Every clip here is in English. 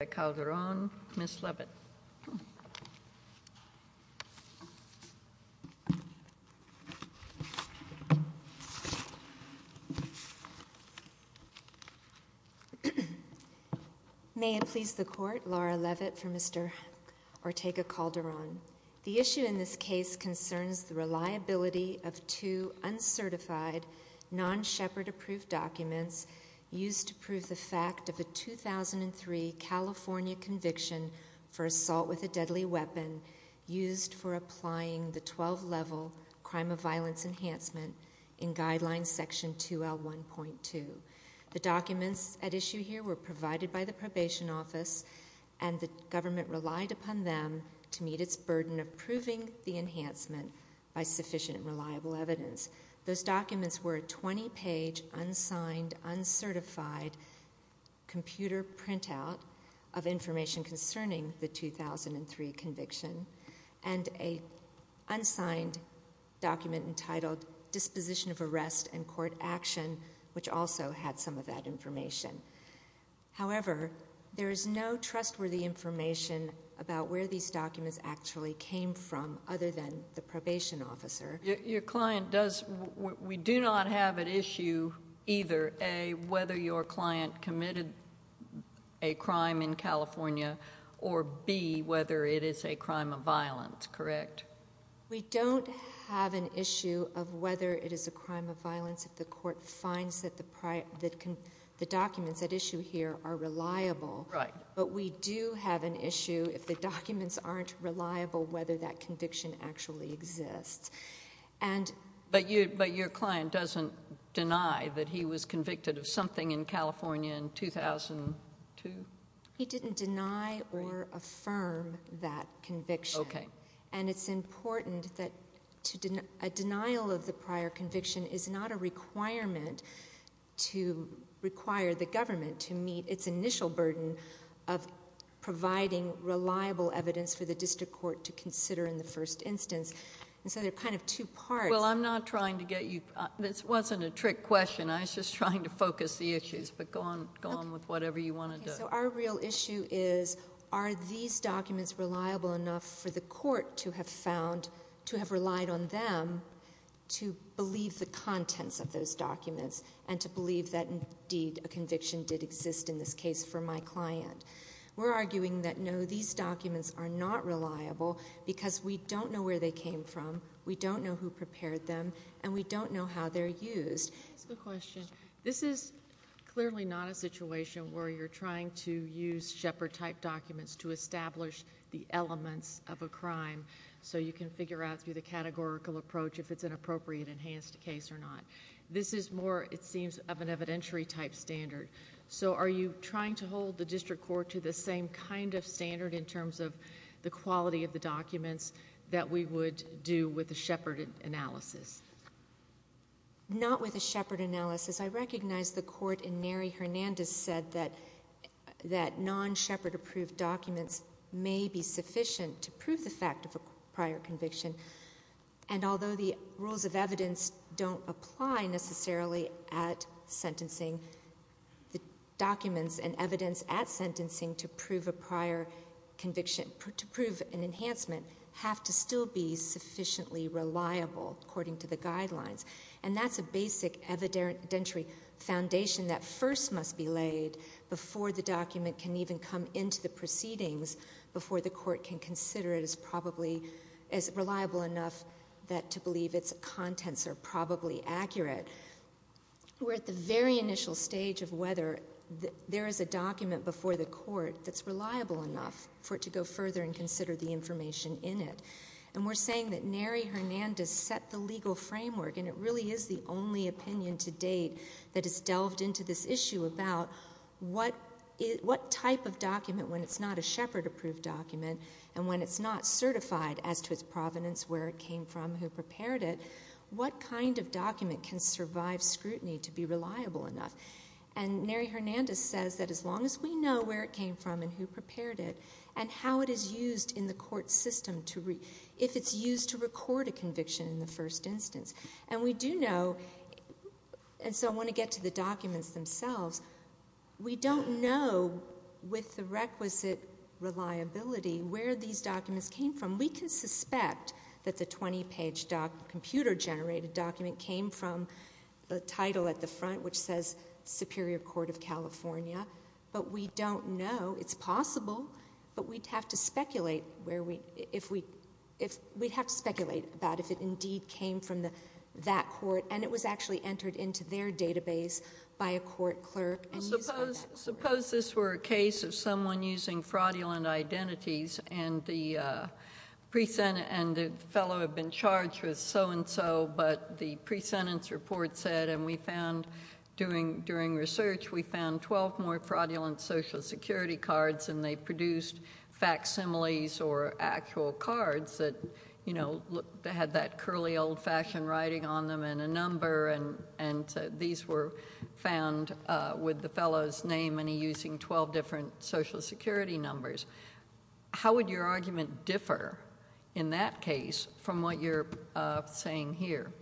May it please the court, Laura Leavitt for Mr. Ortega-Calderon. The issue in this case concerns the reliability of two uncertified, non-Shepherd approved documents used to prove the fact of a 2003 California conviction for assault with a deadly weapon used for applying the 12 level crime of violence enhancement in guideline section 2L1.2. The documents at issue here were provided by the probation office and the government relied upon them to meet its burden of proving the enhancement by sufficient and reliable evidence. Those documents were a 20 page unsigned, uncertified computer printout of information concerning the 2003 conviction and a unsigned document entitled disposition of arrest and court action which also had some of that information. However, there is no trustworthy information about where these documents actually came from other than the probation officer. Your client does, we do not have at issue either a, whether your client committed a crime in California or b, whether it is a crime of violence, correct? We don't have an issue of whether it is a crime of violence if the court finds that the documents at issue here are reliable but we do have an issue if the documents aren't reliable whether that conviction actually exists. But your client doesn't deny that he was convicted of something in California in 2002? He didn't deny or affirm that conviction and it's important that a denial of the prior conviction is not a requirement to require the government to meet its initial burden of providing reliable evidence for the district court to consider in the first instance. And so there are kind of two parts. Well, I'm not trying to get you, this wasn't a trick question, I was just trying to focus the issues but go on, go on with whatever you want to do. Okay, so our real issue is are these documents reliable enough for the court to have found, to have relied on them to believe the contents of those documents and to believe that indeed a conviction did exist in this case for my client? We're arguing that no, these documents are not reliable because we don't know where they came from, we don't know who prepared them, and we don't know how they're used. That's a good question. This is clearly not a situation where you're trying to use Shepard-type documents to establish the elements of a crime so you can figure out through the categorical approach if it's an appropriate enhanced case or not. This is more, it seems, of an evidentiary-type standard. So are you trying to hold the district court to the same kind of standard in terms of the quality of the documents that we would do with a Shepard analysis? Not with a Shepard analysis. I recognize the court in Neri Hernandez said that non-Shepard approved documents may be sufficient to prove the fact of a prior conviction. And although the rules of evidence don't apply necessarily at sentencing, the documents and evidence at sentencing to prove a prior conviction, to prove an enhancement, have to still be sufficiently reliable according to the guidelines. And that's a basic evidentiary foundation that first must be laid before the document can even come into the proceedings, before the court can consider it as probably, as reliable enough that to believe its contents are probably accurate. We're at the very initial stage of whether there is a document before the court that's reliable enough for it to go further and consider the information in it. And we're saying that Neri Hernandez set the legal framework, and it really is the only type of document, when it's not a Shepard approved document, and when it's not certified as to its provenance, where it came from, who prepared it, what kind of document can survive scrutiny to be reliable enough? And Neri Hernandez says that as long as we know where it came from and who prepared it, and how it is used in the court system, if it's used to record a conviction in the first instance. And we do know, and so I want to get to the documents themselves, we don't know with the requisite reliability where these documents came from. We can suspect that the 20 page computer generated document came from the title at the front which says Superior Court of California, but we don't know, it's possible, but we'd have to speculate about if it indeed came from that court, and it was actually entered into their database by a court clerk and used for that court. Suppose this were a case of someone using fraudulent identities and the fellow had been charged with so and so, but the pre-sentence report said, and we found during research, we found 12 more fraudulent social security cards and they produced facsimiles or actual cards that had that curly old-fashioned writing on them and a number, and these were found with the fellow's name and he using 12 different social security numbers. How would your argument differ in that case from what you're saying here?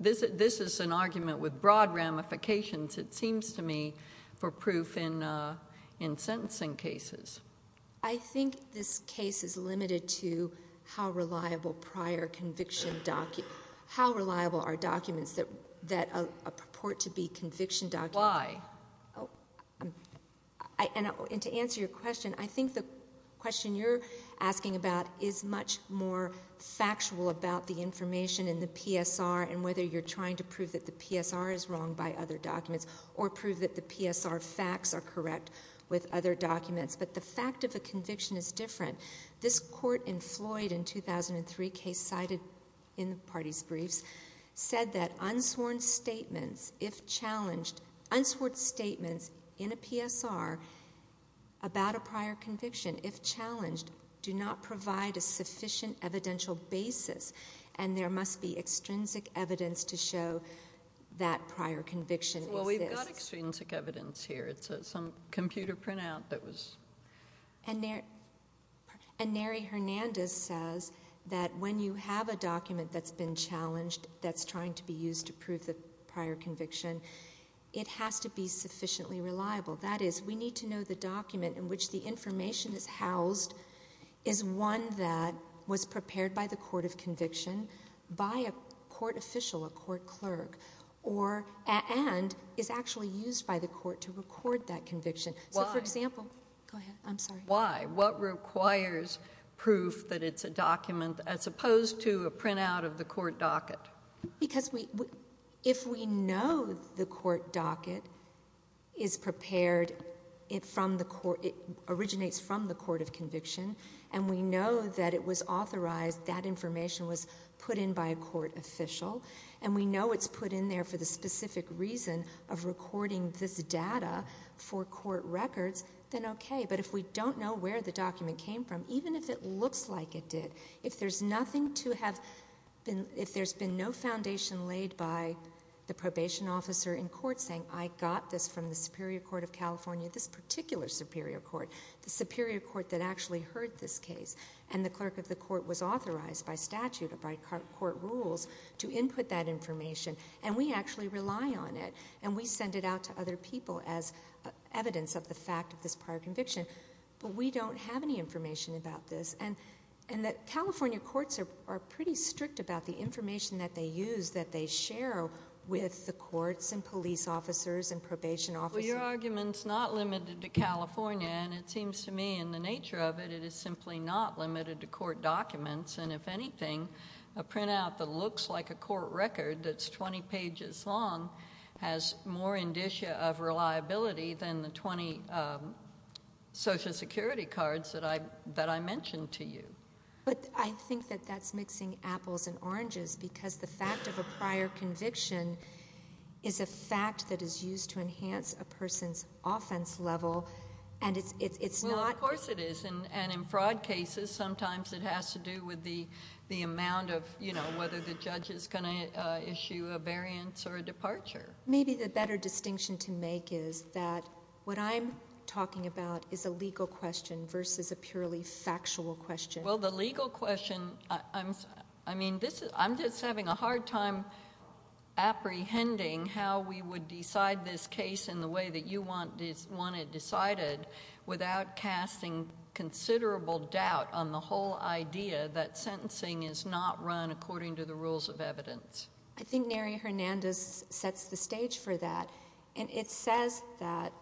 This is an argument with broad ramifications, it seems to me, for proof in sentencing cases. I think this case is limited to how reliable prior conviction documents, how reliable are documents that purport to be conviction documents. Why? And to answer your question, I think the question you're asking about is much more factual about the information in the PSR and whether you're trying to prove that the PSR is wrong by other documents or prove that the PSR facts are correct with other documents, but the fact of a conviction is different. This court in Floyd in 2003, case cited in the party's briefs, said that unsworn statements if challenged, unsworn statements in a PSR about a prior conviction if challenged do not provide a sufficient evidential basis and there must be extrinsic evidence to show that prior conviction exists. Well, we've got extrinsic evidence here. It's some computer printout that was... And Neri Hernandez says that when you have a document that's been challenged that's trying to be used to prove the prior conviction, it has to be sufficiently reliable. That is, we need to know the document in which the information is housed is one that was prepared by the court of conviction by a court official, a court clerk, and is actually used by the court to record that conviction. So, for example... Why? Go ahead. I'm sorry. Why? What requires proof that it's a document as opposed to a printout of the court docket? Because if we know the court docket is prepared, it originates from the court of conviction, and we know that it was authorized, that information was put in by a court official, and we know it's put in there for the specific reason of recording this data for court records, then okay. But if we don't know where the document came from, even if it looks like it did, if there's nothing to have been, if there's been no foundation laid by the probation officer in court saying, I got this from the Superior Court of California, this particular Superior Court, the Superior Court that actually heard this case, and the clerk of the court was authorized by statute or by court rules to input that information, and we actually rely on it, and we send it out to other people as evidence of the fact of this prior conviction, but we don't have any information about this. And that California courts are pretty strict about the information that they use, that they share with the courts and police officers and probation officers. Well, your argument's not limited to California, and it seems to me in the nature of it, it is simply not limited to court documents, and if anything, a printout that looks like a court record that's 20 pages long has more indicia of reliability than the 20 Social Security documents that I mentioned to you. But I think that that's mixing apples and oranges, because the fact of a prior conviction is a fact that is used to enhance a person's offense level, and it's, it's, it's not... Well, of course it is, and in fraud cases, sometimes it has to do with the, the amount of, you know, whether the judge is going to issue a variance or a departure. Maybe the better distinction to make is that what I'm talking about is a legal question versus a purely factual question. Well, the legal question, I'm, I mean, this is, I'm just having a hard time apprehending how we would decide this case in the way that you want, want it decided without casting considerable doubt on the whole idea that sentencing is not run according to the rules of evidence. I think Neri Hernandez sets the stage for that, and it says that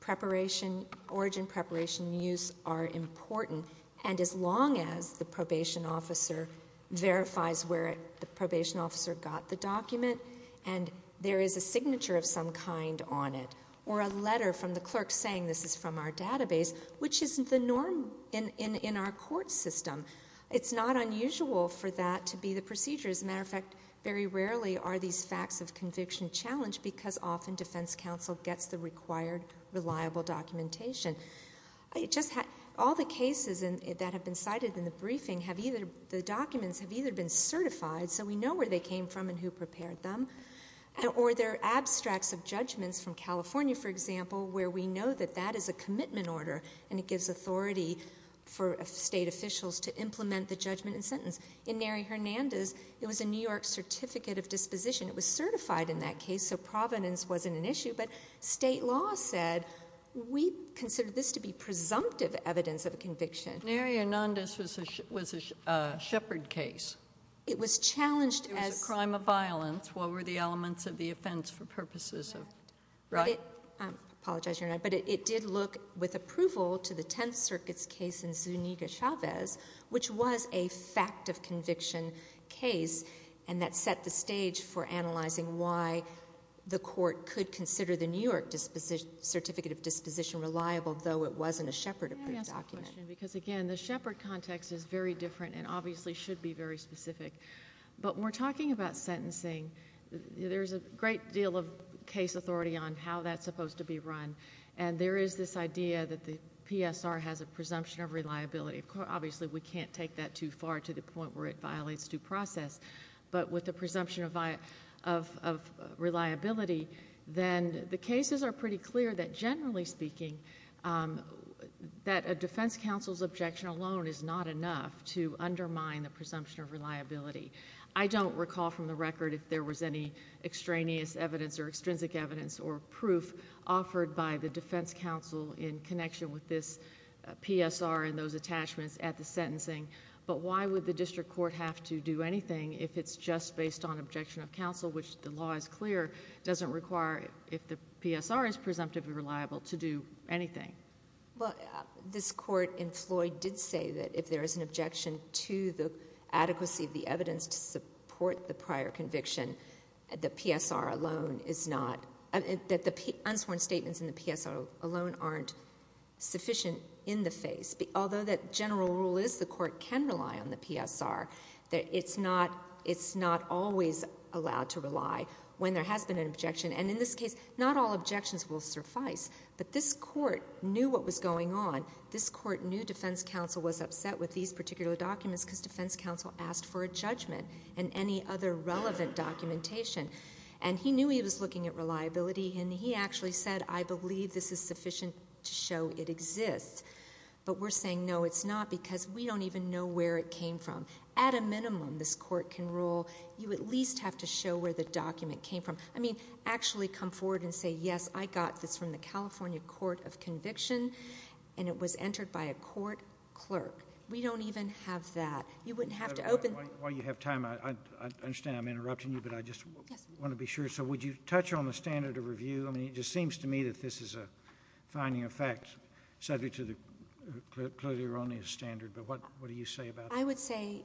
preparation, origin preparation, and use are important, and as long as the probation officer verifies where the probation officer got the document, and there is a signature of some kind on it, or a letter from the clerk saying this is from our database, which isn't the norm in, in, in our court system. It's not unusual for that to be the procedure. As a matter of fact, very rarely are these facts of conviction challenged, because often the defense counsel gets the required, reliable documentation. It just had, all the cases that have been cited in the briefing have either, the documents have either been certified, so we know where they came from and who prepared them, or they're abstracts of judgments from California, for example, where we know that that is a commitment order, and it gives authority for state officials to implement the judgment and sentence. In Neri Hernandez, it was a New York certificate of disposition. It was certified in that case, so provenance wasn't an issue, but state law said, we consider this to be presumptive evidence of a conviction. Neri Hernandez was a, was a, a Shepard case. It was challenged as. It was a crime of violence, what were the elements of the offense for purposes of, right? But it, I apologize, Your Honor, but it, it did look with approval to the Tenth Circuit's case in Zuniga-Chavez, which was a fact of conviction case, and that set the stage for analyzing why the court could consider the New York disposition, certificate of disposition reliable, though it wasn't a Shepard approved document. Can I ask a question? Because again, the Shepard context is very different, and obviously should be very specific. But when we're talking about sentencing, there's a great deal of case authority on how that's of reliability. Of course, obviously we can't take that too far to the point where it violates due process, but with the presumption of, of, of reliability, then the cases are pretty clear that generally speaking that a defense counsel's objection alone is not enough to undermine the presumption of reliability. I don't recall from the record if there was any extraneous evidence or extrinsic evidence or proof offered by the defense counsel in connection with this PSR and those attachments at the sentencing, but why would the district court have to do anything if it's just based on objection of counsel, which the law is clear doesn't require, if the PSR is presumptively reliable, to do anything? Well, this court in Floyd did say that if there is an objection to the adequacy of the PSR, that the unsworn statements in the PSR alone aren't sufficient in the face. Although that general rule is the court can rely on the PSR, that it's not, it's not always allowed to rely when there has been an objection. And in this case, not all objections will suffice, but this court knew what was going on. This court knew defense counsel was upset with these particular documents because defense counsel asked for a judgment and any other relevant documentation. And he knew he was looking at reliability and he actually said, I believe this is sufficient to show it exists, but we're saying, no, it's not because we don't even know where it came from. At a minimum, this court can rule, you at least have to show where the document came from. I mean, actually come forward and say, yes, I got this from the California Court of Conviction and it was entered by a court clerk. We don't even have that. You wouldn't have to open. While you have time, I understand I'm interrupting you, but I just want to be sure. So would you touch on the standard of review? I mean, it just seems to me that this is a finding of facts subject to the Clio-Leroni standard, but what do you say about that? I would say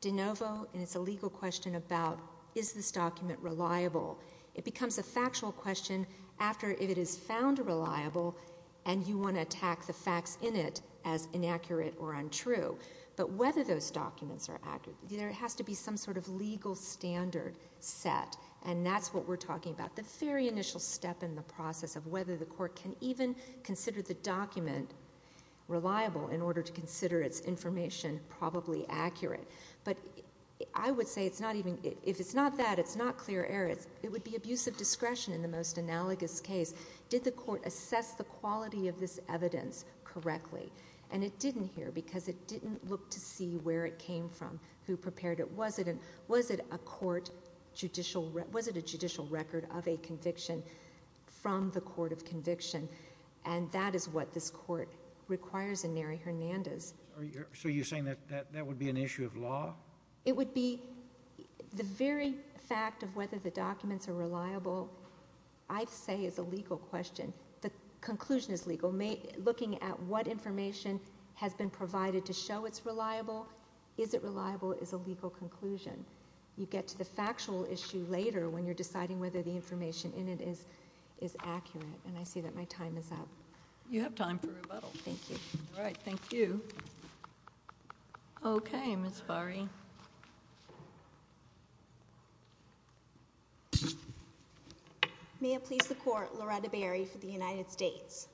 de novo, and it's a legal question about, is this document reliable? It becomes a factual question after if it is found reliable and you want to attack the facts in it as inaccurate or untrue. But whether those documents are accurate, there has to be some sort of legal standard set, and that's what we're talking about. The very initial step in the process of whether the court can even consider the document reliable in order to consider its information probably accurate. But I would say it's not even, if it's not that, it's not clear error. It would be abuse of discretion in the most analogous case. Did the court assess the quality of this evidence correctly? And it didn't here, because it didn't look to see where it came from, who prepared it, was it a court judicial, was it a judicial record of a conviction from the court of conviction? And that is what this court requires in Neri Hernandez. So you're saying that that would be an issue of law? It would be, the very fact of whether the documents are reliable, I'd say is a legal question. The conclusion is legal. Looking at what information has been provided to show it's reliable, is it reliable, is a legal conclusion. You get to the factual issue later when you're deciding whether the information in it is accurate. And I see that my time is up. You have time for rebuttal. Thank you. All right. Thank you. Okay, Ms. Bari. May it please the court, Loretta Bari for the United States.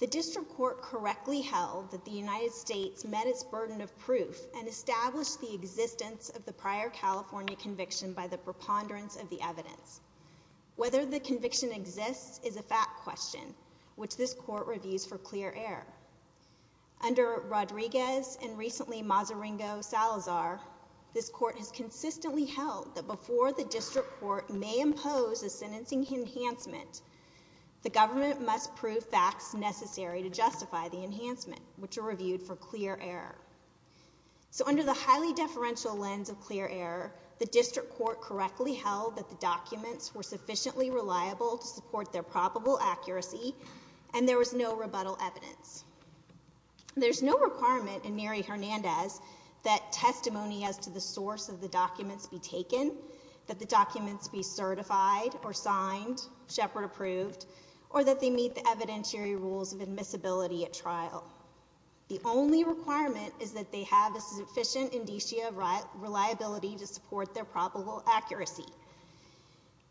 The district court correctly held that the United States met its burden of proof and established the existence of the prior California conviction by the preponderance of the evidence. Whether the conviction exists is a fact question, which this court reviews for clear air. Under Rodriguez and recently Mazaringo-Salazar, this court has consistently held that before the district court may impose a sentencing enhancement, the government must prove facts necessary to justify the enhancement, which are reviewed for clear air. So under the highly deferential lens of clear air, the district court correctly held that the documents were sufficiently reliable to support their probable accuracy and there was no rebuttal evidence. There's no requirement in Neri Hernandez that testimony as to the source of the documents be taken, that the documents be certified or signed, Shepard approved, or that they meet the evidentiary rules of admissibility at trial. The only requirement is that they have a sufficient indicia reliability to support their probable accuracy.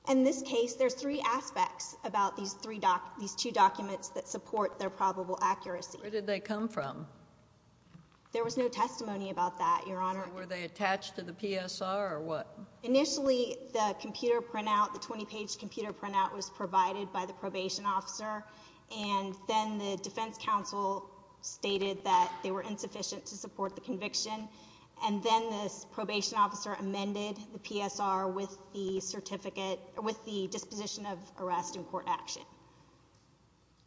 In this case, there's three aspects about these two documents that support their probable accuracy. Where did they come from? There was no testimony about that, Your Honor. So were they attached to the PSR or what? Initially the computer printout, the 20 page computer printout was provided by the probation officer and then the defense counsel stated that they were insufficient to support the certificate, with the disposition of arrest in court action.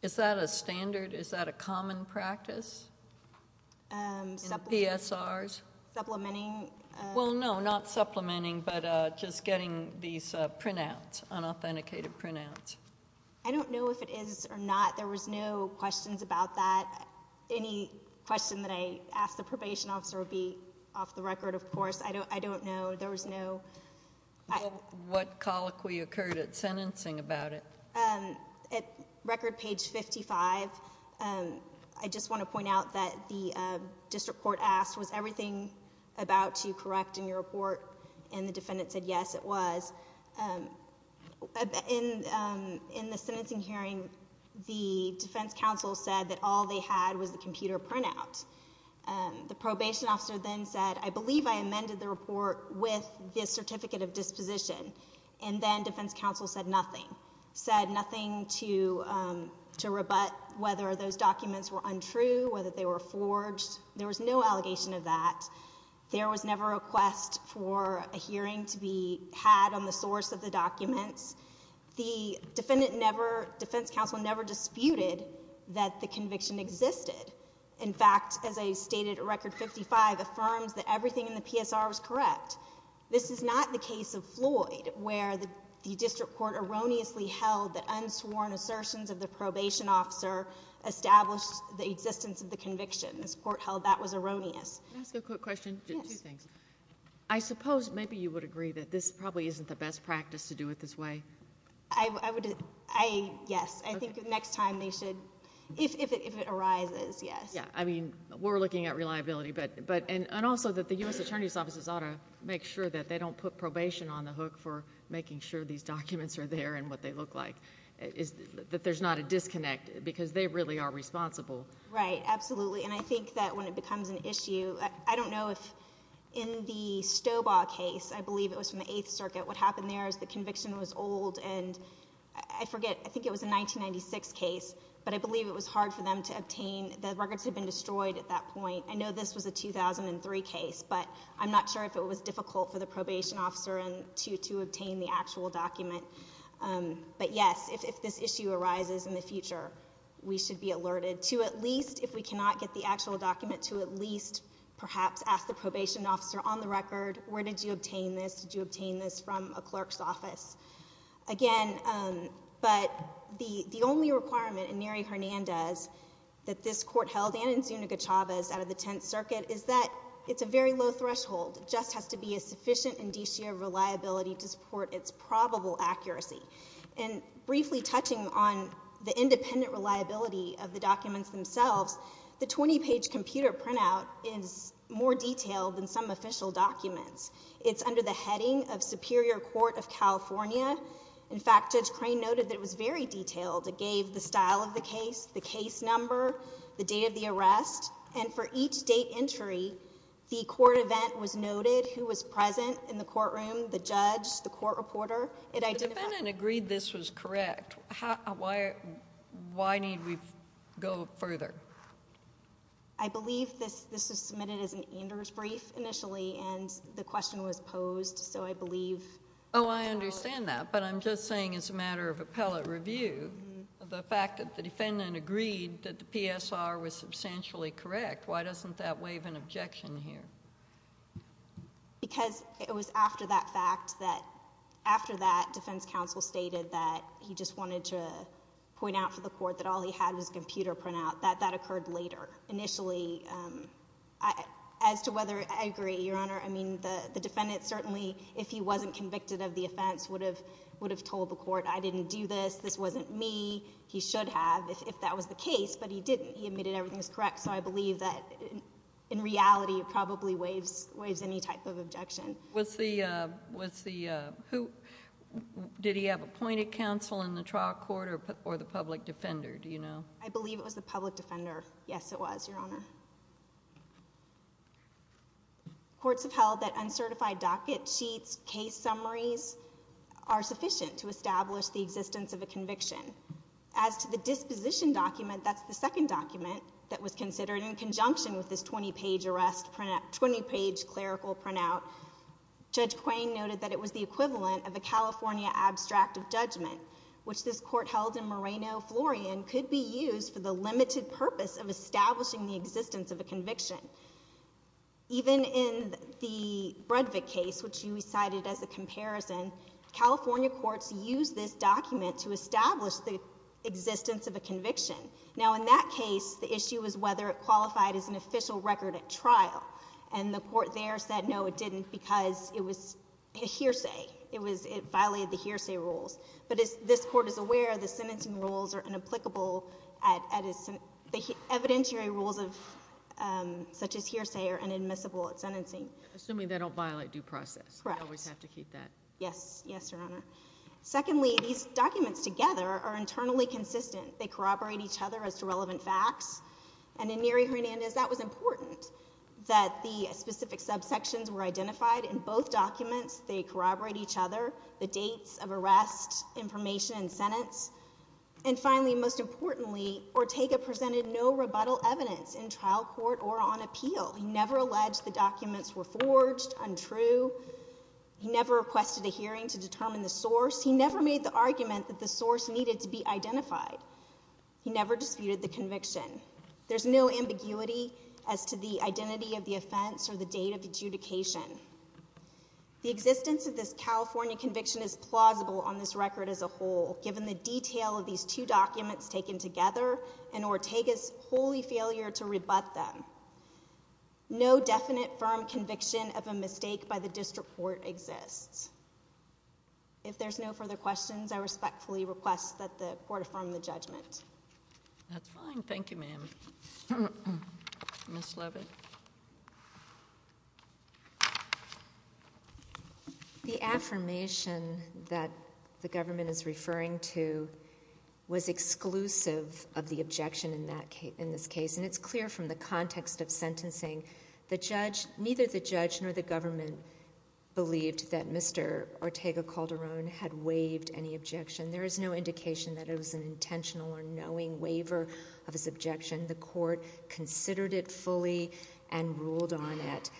Is that a standard? Is that a common practice in PSRs? Supplementing? Well, no, not supplementing, but just getting these printouts, unauthenticated printouts. I don't know if it is or not. There was no questions about that. Any question that I ask the probation officer would be off the record, of course. I don't know. There was no... What colloquy occurred at sentencing about it? At record page 55, I just want to point out that the district court asked, was everything about to correct in your report and the defendant said, yes, it was. In the sentencing hearing, the defense counsel said that all they had was the computer printout. The probation officer then said, I believe I amended the report with the certificate of disposition and then defense counsel said nothing. Said nothing to rebut whether those documents were untrue, whether they were forged. There was no allegation of that. There was never a request for a hearing to be had on the source of the documents. The defendant never, defense counsel never disputed that the conviction existed. In fact, as I stated at record 55, affirms that everything in the PSR was correct. This is not the case of Floyd where the district court erroneously held that unsworn assertions of the probation officer established the existence of the conviction. This court held that was erroneous. Can I ask a quick question? Yes. Two things. I suppose maybe you would agree that this probably isn't the best practice to do it this way. I would... Yes. Okay. Next time they should, if it arises, yes. Yeah. I mean, we're looking at reliability, and also that the U.S. attorney's offices ought to make sure that they don't put probation on the hook for making sure these documents are there and what they look like. There's not a disconnect because they really are responsible. Right. Absolutely. I think that when it becomes an issue, I don't know if in the Stobaugh case, I believe it was from the Eighth Circuit, what happened there is the conviction was old. I forget. I think it was a 1996 case, but I believe it was hard for them to obtain... The records had been destroyed at that point. I know this was a 2003 case, but I'm not sure if it was difficult for the probation officer to obtain the actual document. Yes. If this issue arises in the future, we should be alerted to at least, if we cannot get the actual document, to at least perhaps ask the probation officer on the record, where did you obtain this? Did you obtain this from a clerk's office? Again, but the only requirement in Neri Hernandez that this court held, and in Zuniga Chavez out of the Tenth Circuit, is that it's a very low threshold. It just has to be a sufficient indicia of reliability to support its probable accuracy. Briefly touching on the independent reliability of the documents themselves, the 20-page computer printout is more detailed than some official documents. It's under the heading of Superior Court of California. In fact, Judge Crane noted that it was very detailed. It gave the style of the case, the case number, the date of the arrest, and for each date entry, the court event was noted, who was present in the courtroom, the judge, the court reporter. The defendant agreed this was correct. Why need we go further? I believe this was submitted as an Anders brief initially, and the question was posed, so I believe... Oh, I understand that, but I'm just saying as a matter of appellate review, the fact that the defendant agreed that the PSR was substantially correct, why doesn't that waive an objection here? Because it was after that fact that, after that, defense counsel stated that he just initially, as to whether... I agree, Your Honor. The defendant certainly, if he wasn't convicted of the offense, would have told the court, I didn't do this, this wasn't me, he should have, if that was the case, but he didn't. He admitted everything was correct, so I believe that in reality, it probably waives any type of objection. Did he have appointed counsel in the trial court or the public defender, do you know? I believe it was the public defender, yes it was, Your Honor. Courts have held that uncertified docket sheets, case summaries, are sufficient to establish the existence of a conviction. As to the disposition document, that's the second document that was considered in conjunction with this 20-page arrest, 20-page clerical printout, Judge Quain noted that it was the equivalent of a California abstract of judgment, which this court held in Moreno-Florian could be used for the limited purpose of establishing the existence of a conviction. Even in the Bredvik case, which you cited as a comparison, California courts use this document to establish the existence of a conviction. Now in that case, the issue was whether it qualified as an official record at trial, and the court there said no, it didn't, because it was a hearsay, it violated the hearsay rules. But as this court is aware, the sentencing rules are inapplicable, the evidentiary rules of such as hearsay are inadmissible at sentencing. Assuming they don't violate due process. Correct. We always have to keep that. Yes. Yes, Your Honor. Secondly, these documents together are internally consistent. They corroborate each other as to relevant facts, and in Neri Hernandez, that was important that the specific subsections were identified in both documents, they corroborate each other, the dates of arrest, information, and sentence. And finally, most importantly, Ortega presented no rebuttal evidence in trial court or on appeal. He never alleged the documents were forged, untrue, he never requested a hearing to determine the source, he never made the argument that the source needed to be identified. He never disputed the conviction. There's no ambiguity as to the identity of the offense or the date of adjudication. The existence of this California conviction is plausible on this record as a whole, given the detail of these two documents taken together and Ortega's wholly failure to rebut them. No definite firm conviction of a mistake by the district court exists. If there's no further questions, I respectfully request that the court affirm the judgment. That's fine. Thank you, ma'am. Ms. Leavitt. The affirmation that the government is referring to was exclusive of the objection in that case, in this case, and it's clear from the context of sentencing, the judge, neither the judge nor the government believed that Mr. Ortega Calderon had waived any objection. There is no indication that it was an intentional or knowing waiver of his objection. The court considered it fully and ruled on it.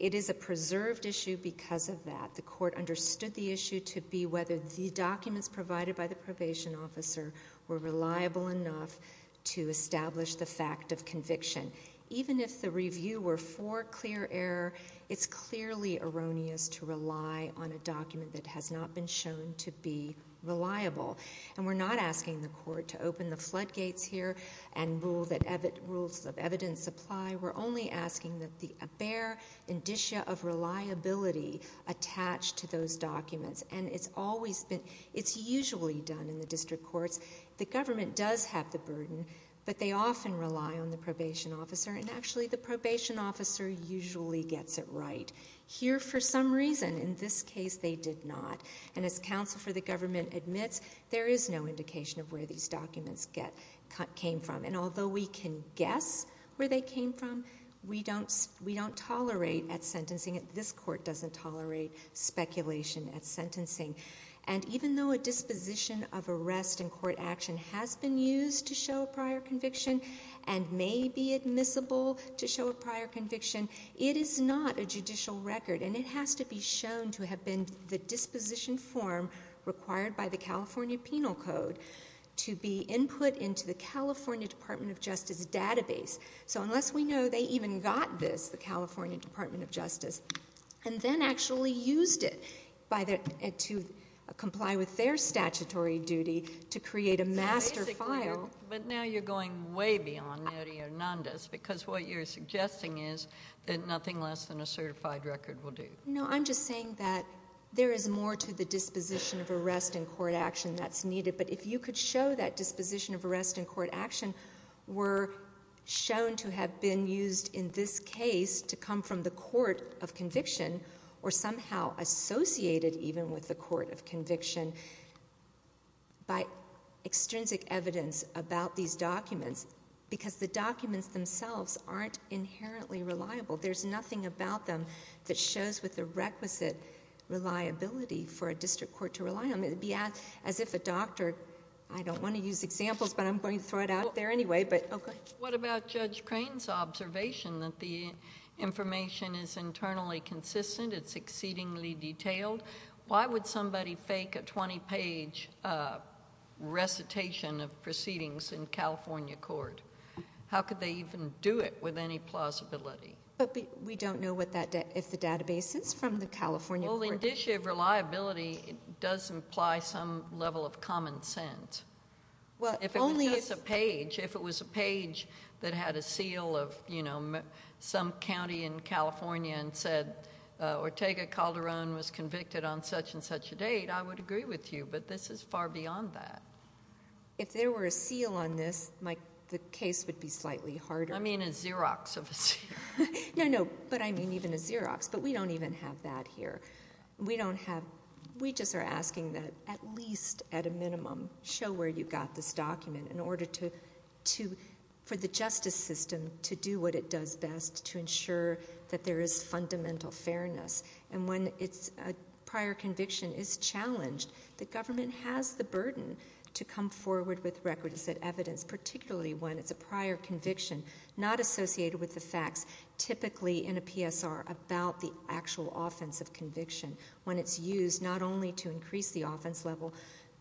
It is a preserved issue because of that. The court understood the issue to be whether the documents provided by the probation officer were reliable enough to establish the fact of conviction. Even if the review were for clear error, it's clearly erroneous to rely on a document that has not been shown to be reliable. And we're not asking the court to open the floodgates here and rule that rules of evidence apply. We're only asking that the bare indicia of reliability attached to those documents. And it's always been, it's usually done in the district courts. The government does have the burden, but they often rely on the probation officer. And actually, the probation officer usually gets it right. Here, for some reason, in this case, they did not. And as counsel for the government admits, there is no indication of where these documents came from. And although we can guess where they came from, we don't tolerate at sentencing. This court doesn't tolerate speculation at sentencing. And even though a disposition of arrest in court action has been used to show a prior conviction, and may be admissible to show a prior conviction, it is not a judicial record. And it has to be shown to have been the disposition form required by the California Penal Code to be input into the California Department of Justice database. So unless we know they even got this, the California Department of Justice, and then actually used it to comply with their statutory duty to create a master file. But now you're going way beyond Neri Hernandez, because what you're suggesting is that nothing less than a certified record will do. No, I'm just saying that there is more to the disposition of arrest in court action that's needed. But if you could show that disposition of arrest in court action were shown to have been used in this case, to come from the court of conviction, or somehow associated even with the court of conviction, by extrinsic evidence about these documents. Because the documents themselves aren't inherently reliable. There's nothing about them that shows with the requisite reliability for a district court to rely on. It'd be as if a doctor, I don't want to use examples, but I'm going to throw it out there anyway, but okay. What about Judge Crane's observation that the information is internally consistent, it's exceedingly detailed? Why would somebody fake a 20 page recitation of proceedings in California court? How could they even do it with any plausibility? But we don't know what that, if the database is from the California court. Well, in this issue, reliability does imply some level of common sense. Well, only if- If it was a page that had a seal of some county in California and said Ortega Calderon was convicted on such and such a date, I would agree with you. But this is far beyond that. If there were a seal on this, the case would be slightly harder. I mean a Xerox of a seal. No, no, but I mean even a Xerox, but we don't even have that here. We don't have, we just are asking that at least at a minimum, show where you got this document in order to, for the justice system to do what it does best to ensure that there is fundamental fairness. And when it's a prior conviction is challenged, the government has the burden to come forward with records and evidence. Particularly when it's a prior conviction, not associated with the facts, typically in a PSR about the actual offense of conviction. When it's used not only to increase the offense level,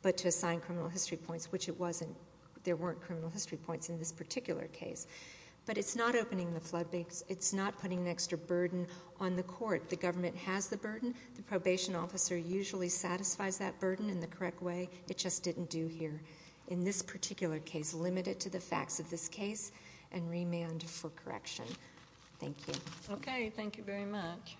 but to assign criminal history points, which it wasn't, there weren't criminal history points in this particular case. But it's not opening the floodgates, it's not putting an extra burden on the court. The government has the burden, the probation officer usually satisfies that burden in the correct way, it just didn't do here. In this particular case, limit it to the facts of this case and remand for correction. Thank you. Okay, thank you very much.